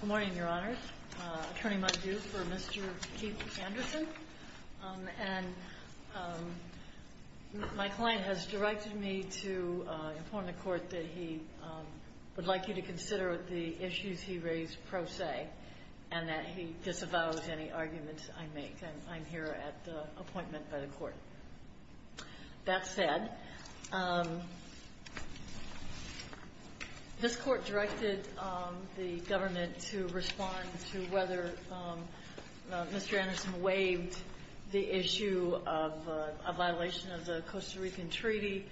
Good morning, your honors. Attorney Muldew for Mr. Keith Anderson. And my client has directed me to inform the court that he would like you to consider the issues he raised pro se and that he disavows any arguments I make. And I'm here at the appointment by the court. That said, this court directed the government to respond to whether Mr. Anderson waived the issue of a violation of the Costa Rican Treaty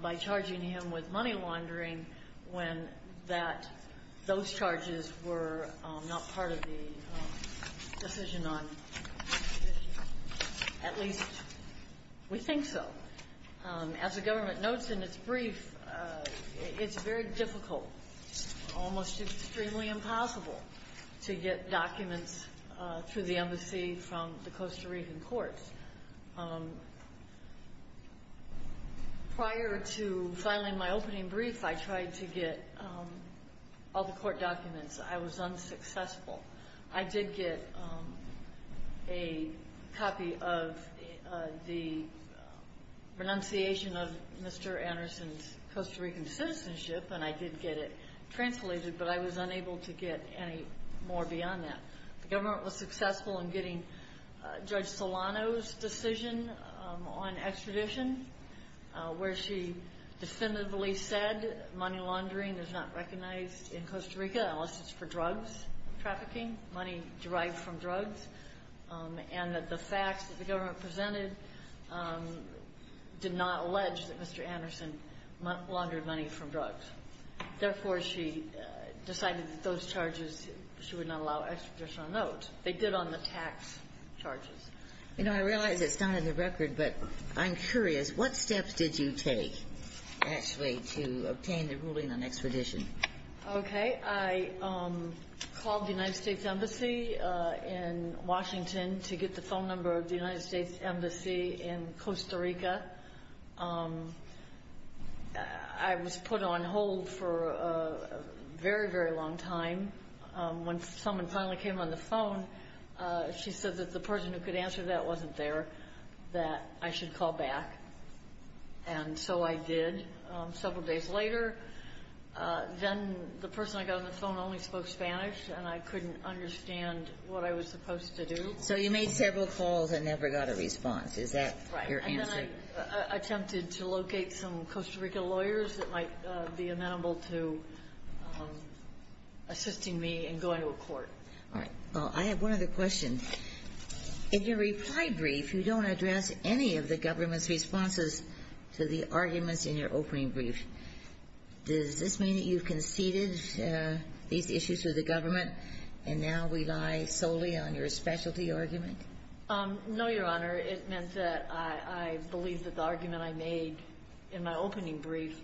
by charging him with money laundering when that those charges were not part of the decision on the issue. At least we think so. As the government notes in its brief, it's very difficult, almost extremely impossible to get documents through the embassy from the Costa Rican courts. Prior to filing my opening brief, I tried to get all the court documents. I was unsuccessful. I did get a copy of the renunciation of Mr. Anderson's Costa Rican citizenship, and I did get it translated, but I was unable to get any more beyond that. The government was successful in getting Judge Solano's decision on extradition, where she definitively said money laundering is not recognized in Costa Rica unless it's for drugs trafficking, money derived from drugs, and that the facts that the government presented did not allege that Mr. Anderson laundered money from drugs. Therefore, she decided that those charges, she would not allow extradition on note. They did on the tax charges. You know, I realize it's not in the record, but I'm curious, what steps did you take, actually, to obtain the ruling on extradition? Okay. I called the United States Embassy in Washington to get the phone number of the United States Embassy in Costa Rica. I was put on hold for a very, very long time. When someone finally came on the phone, she said that the person who could answer that wasn't there, that I should call back. And so I did. Several days later, then the person I got on the phone only spoke Spanish, and I couldn't understand what I was supposed to do. So you made several calls and never got a response. Is that your answer? I attempted to locate some Costa Rica lawyers that might be amenable to assisting me in going to a court. All right. Well, I have one other question. In your reply brief, you don't address any of the government's responses to the arguments in your opening brief. Does this mean that you've conceded these issues to the government, and now we lie solely on your specialty argument? No, Your Honor. It meant that I believe that the argument I made in my opening brief,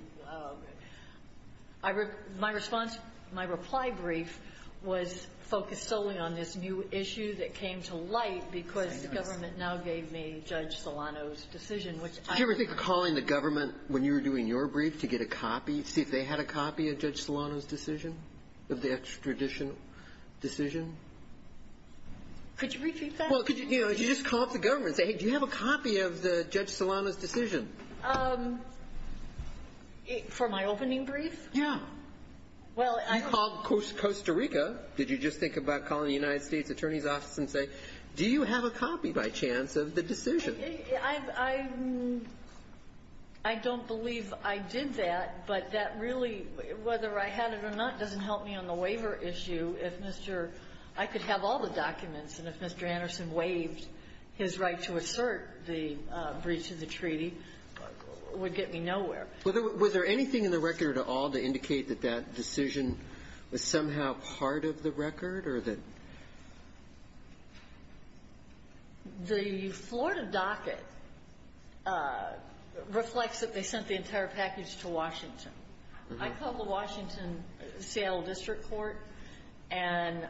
my response, my reply brief, was focused solely on this new issue that came to light because the government now gave me Judge Solano's decision, which I — Do you ever think of calling the government when you were doing your brief to get a copy, see if they had a copy of Judge Solano's decision, of the extradition decision? Could you repeat that? Well, could you just call up the government and say, hey, do you have a copy of Judge Solano's decision? For my opening brief? Yeah. Well, I — You called Costa Rica. Did you just think about calling the United States Attorney's Office and say, do you have a copy, by chance, of the decision? I don't believe I did that, but that really, whether I had it or not, doesn't help me on the waiver issue. If Mr. — I could have all the documents, and if Mr. Anderson waived his right to assert the breach of the treaty, it would get me nowhere. Was there anything in the record at all to indicate that that decision was somehow part of the record or that — The Florida docket reflects that they sent the entire package to Washington. I called the Washington — Seattle District Court and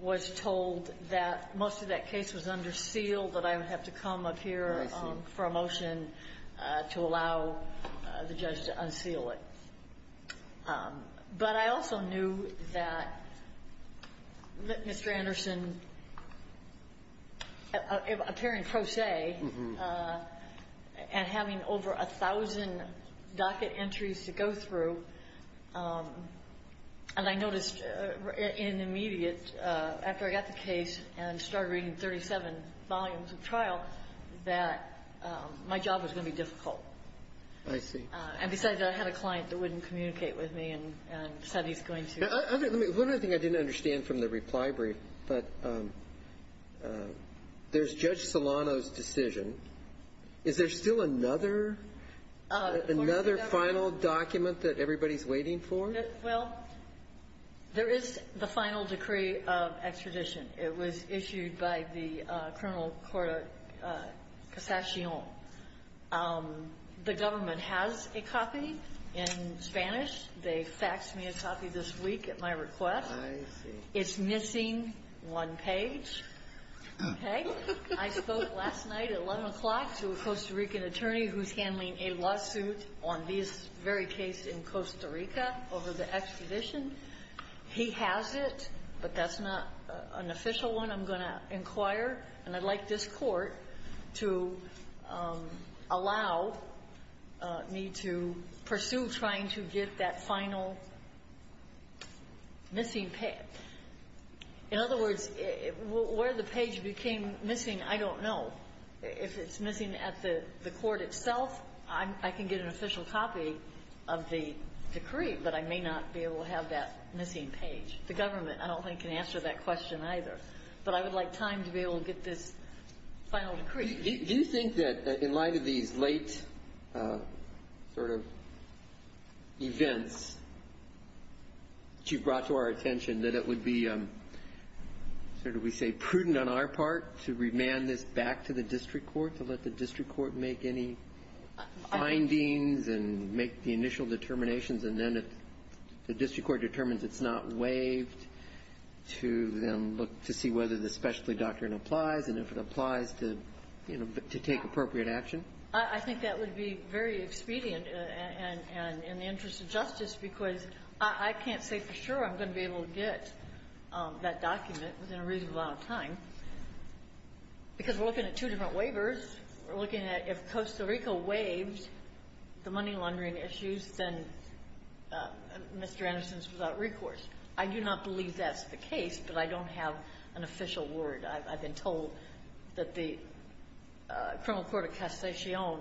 was told that most of that case was under seal, that I would have to come up here for a motion to allow the judge to unseal it. But I also knew that Mr. Anderson, appearing pro se and having over 1,000 docket entries to go through, and I noticed in an immediate — after I got the case and started reading 37 volumes of trial, that my job was going to be difficult. I see. And besides that, I had a client that wouldn't communicate with me and said he's going to — Let me — one other thing I didn't understand from the reply brief, but there's Judge Solano's decision. Is there still another — Another final document that everybody's waiting for? Well, there is the final decree of extradition. It was issued by the Colonel Cora Cassation. The government has a copy in Spanish. They faxed me a copy this week at my request. I see. It's missing one page, okay? I spoke last night at 11 o'clock to a Costa Rican attorney who's handling a lawsuit on this very case in Costa Rica over the extradition. He has it, but that's not an official one I'm going to inquire. And I'd like this Court to allow me to pursue trying to get that final missing page. In other words, where the page became missing, I don't know. If it's missing at the court itself, I can get an official copy of the decree, but I may not be able to have that missing page. The government, I don't think, can answer that question either. But I would like time to be able to get this final decree. Do you think that, in light of these late sort of events that you've brought to our attention, that it would be sort of, we say, prudent on our part to remand this back to the district court, to let the district court make any findings and make the initial determinations, and then if the district court determines it's not waived to then look to see whether the specialty doctrine applies and if it applies to take appropriate action? I think that would be very expedient and in the interest of justice, because I can't say for sure I'm going to be able to get that document within a reasonable amount of time, because we're looking at two different waivers. We're looking at if Costa Rica waives the money laundering issues, then Mr. Anderson's without recourse. I do not believe that's the case, but I don't have an official word. I've been told that the criminal court of Castellon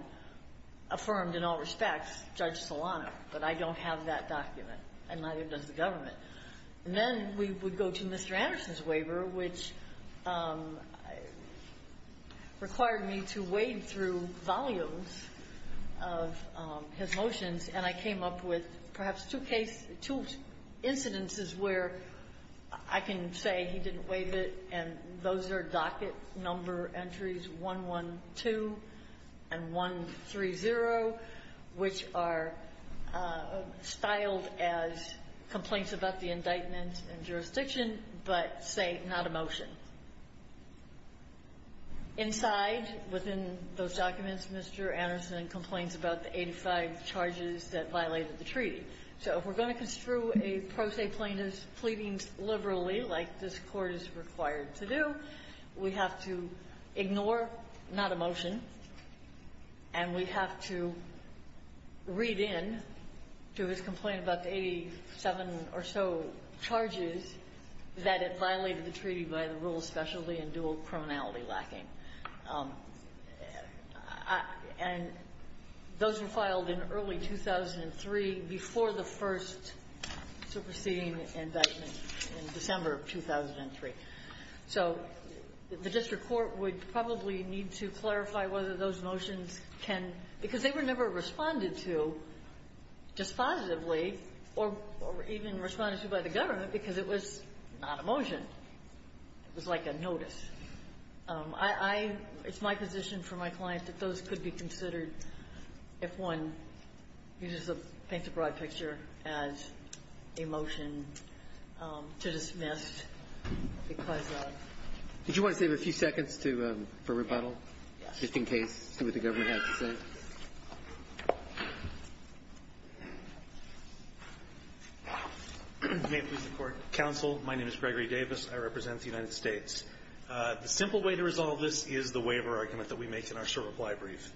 affirmed in all respects Judge Solano, but I don't have that document, and neither does the government. Then we would go to Mr. Anderson's waiver, which required me to wade through volumes of his motions, and I came up with perhaps two cases, two incidences where I can say he didn't waive it, and those are docket number entries 112 and 130, which are styled as complaints about the indictment and jurisdiction, but say not a motion. Inside, within those documents, Mr. Anderson complains about the 85 charges that violated the treaty. So if we're going to construe a pro se plaintiff's pleadings liberally like this Court is required to do, we have to ignore not a motion, and we have to read in to his complaint about the 87 or so charges that it violated the treaty by the rule of specialty and dual criminality lacking. And those were filed in early 2003, before the first superseding indictment in December of 2003. So the district court would probably need to clarify whether those motions can, because they were never responded to dispositively or even responded to by the government because it was not a motion. It was like a notice. I, I, it's my position for my client that those could be considered if one uses a plaintiff's broad picture as a motion to dismiss because of. Did you want to save a few seconds to, for rebuttal? Yes. Just in case, see what the government had to say. May it please the Court. Counsel, my name is Gregory Davis. I represent the United States. The simple way to resolve this is the waiver argument that we make in our short reply brief.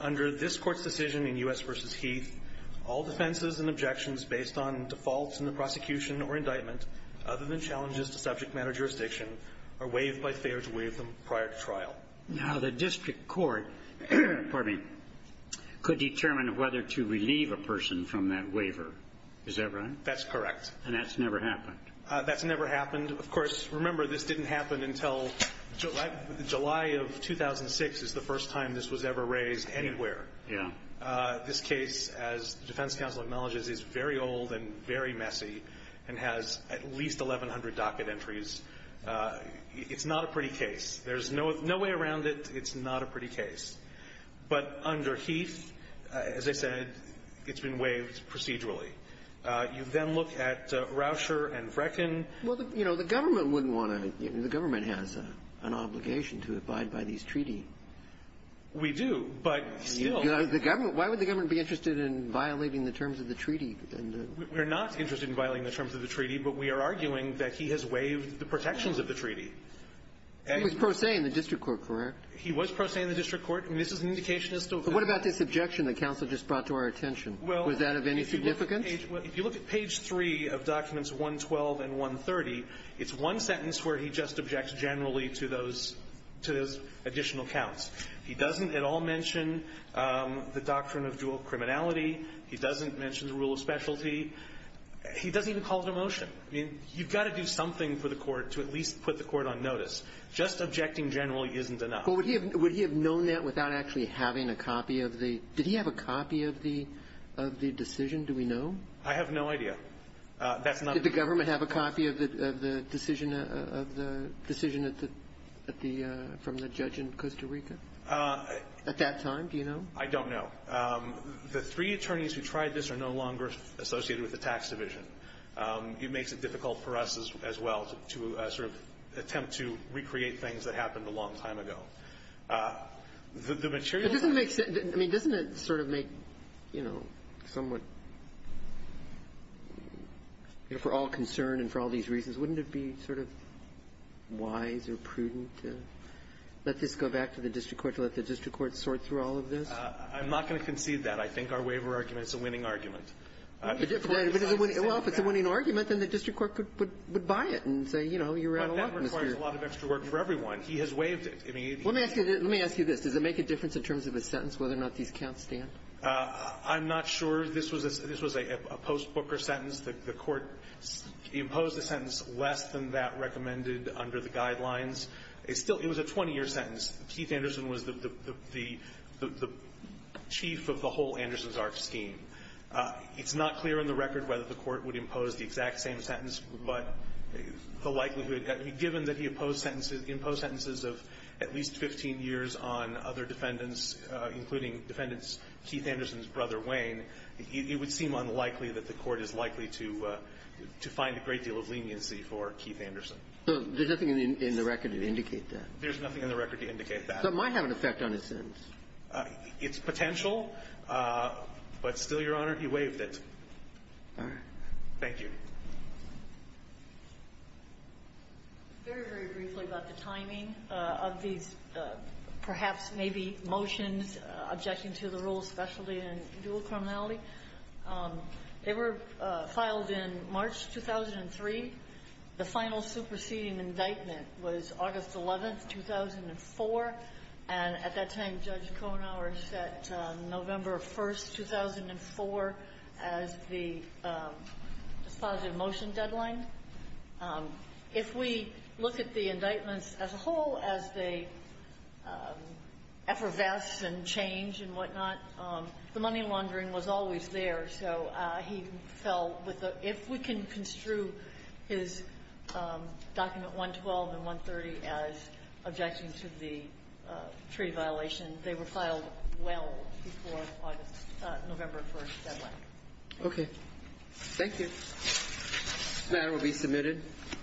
Under this Court's decision in U.S. v. Heath, all defenses and objections based on defaults in the prosecution or indictment, other than challenges to subject matter jurisdiction, are waived by failure to waive them prior to trial. Now, the district court, pardon me, could determine whether to relieve a person from that waiver. Is that right? That's correct. And that's never happened? That's never happened. Of course, remember, this didn't happen until July of 2006 is the first time this was ever raised anywhere. Yeah. This case, as the defense counsel acknowledges, is very old and very messy and has at least 1,100 docket entries. It's not a pretty case. There's no way around it. It's not a pretty case. But under Heath, as I said, it's been waived procedurally. You then look at Rauscher and Brecken. Well, you know, the government wouldn't want to. The government has an obligation to abide by these treaty. We do, but still. Why would the government be interested in violating the terms of the treaty? We're not interested in violating the terms of the treaty, but we are arguing that he has waived the protections of the treaty. He was pro se in the district court, correct? He was pro se in the district court. I mean, this is an indication that's still valid. But what about this objection that counsel just brought to our attention? Was that of any significance? Well, if you look at page 3 of documents 112 and 130, it's one sentence where he just objects generally to those additional counts. He doesn't at all mention the doctrine of dual criminality. He doesn't mention the rule of specialty. He doesn't even call it a motion. I mean, you've got to do something for the court to at least put the court on notice. Just objecting generally isn't enough. But would he have known that without actually having a copy of the – did he have a copy of the decision? Do we know? I have no idea. That's not – Did the government have a copy of the decision at the – from the judge in Costa Rica at that time? Do you know? I don't know. The three attorneys who tried this are no longer associated with the tax division. It makes it difficult for us as well to sort of attempt to recreate things that happened a long time ago. The material – But doesn't it make – I mean, doesn't it sort of make, you know, somewhat – you know, for all concern and for all these reasons, wouldn't it be sort of wise or prudent to let this go back to the district court, to let the district court sort through all of this? I'm not going to concede that. I think our waiver argument is a winning argument. Well, if it's a winning argument, then the district court could buy it and say, you know, you ran a lot this year. But that requires a lot of extra work for everyone. He has waived it. Let me ask you this. Does it make a difference in terms of his sentence, whether or not these counts stand? I'm not sure. This was a post-Booker sentence. The Court imposed a sentence less than that recommended under the guidelines. It still – it was a 20-year sentence. Keith Anderson was the chief of the whole Anderson's arc scheme. It's not clear on the record whether the Court would impose the exact same sentence, but the likelihood – given that he imposed sentences of at least 15 years on other defendants, including defendants Keith Anderson's brother, Wayne, it would seem unlikely that the Court is likely to find a great deal of leniency for Keith Anderson. So there's nothing in the record to indicate that. There's nothing in the record to indicate that. So it might have an effect on his sentence. It's potential, but still, Your Honor, he waived it. All right. Thank you. Very, very briefly about the timing of these perhaps maybe motions objecting to the rule of specialty and dual criminality. They were filed in March 2003. The final superseding indictment was August 11th, 2004. And at that time, Judge Kohenhauer set November 1st, 2004, as the dispositive motion deadline. If we look at the indictments as a whole, as they effervesce and change and whatnot, the money laundering was always there. So he fell with the – if we can construe his document 112 and 130 as objecting to the treaty violation, they were filed well before November 1st deadline. Okay. Thank you. This matter will be submitted.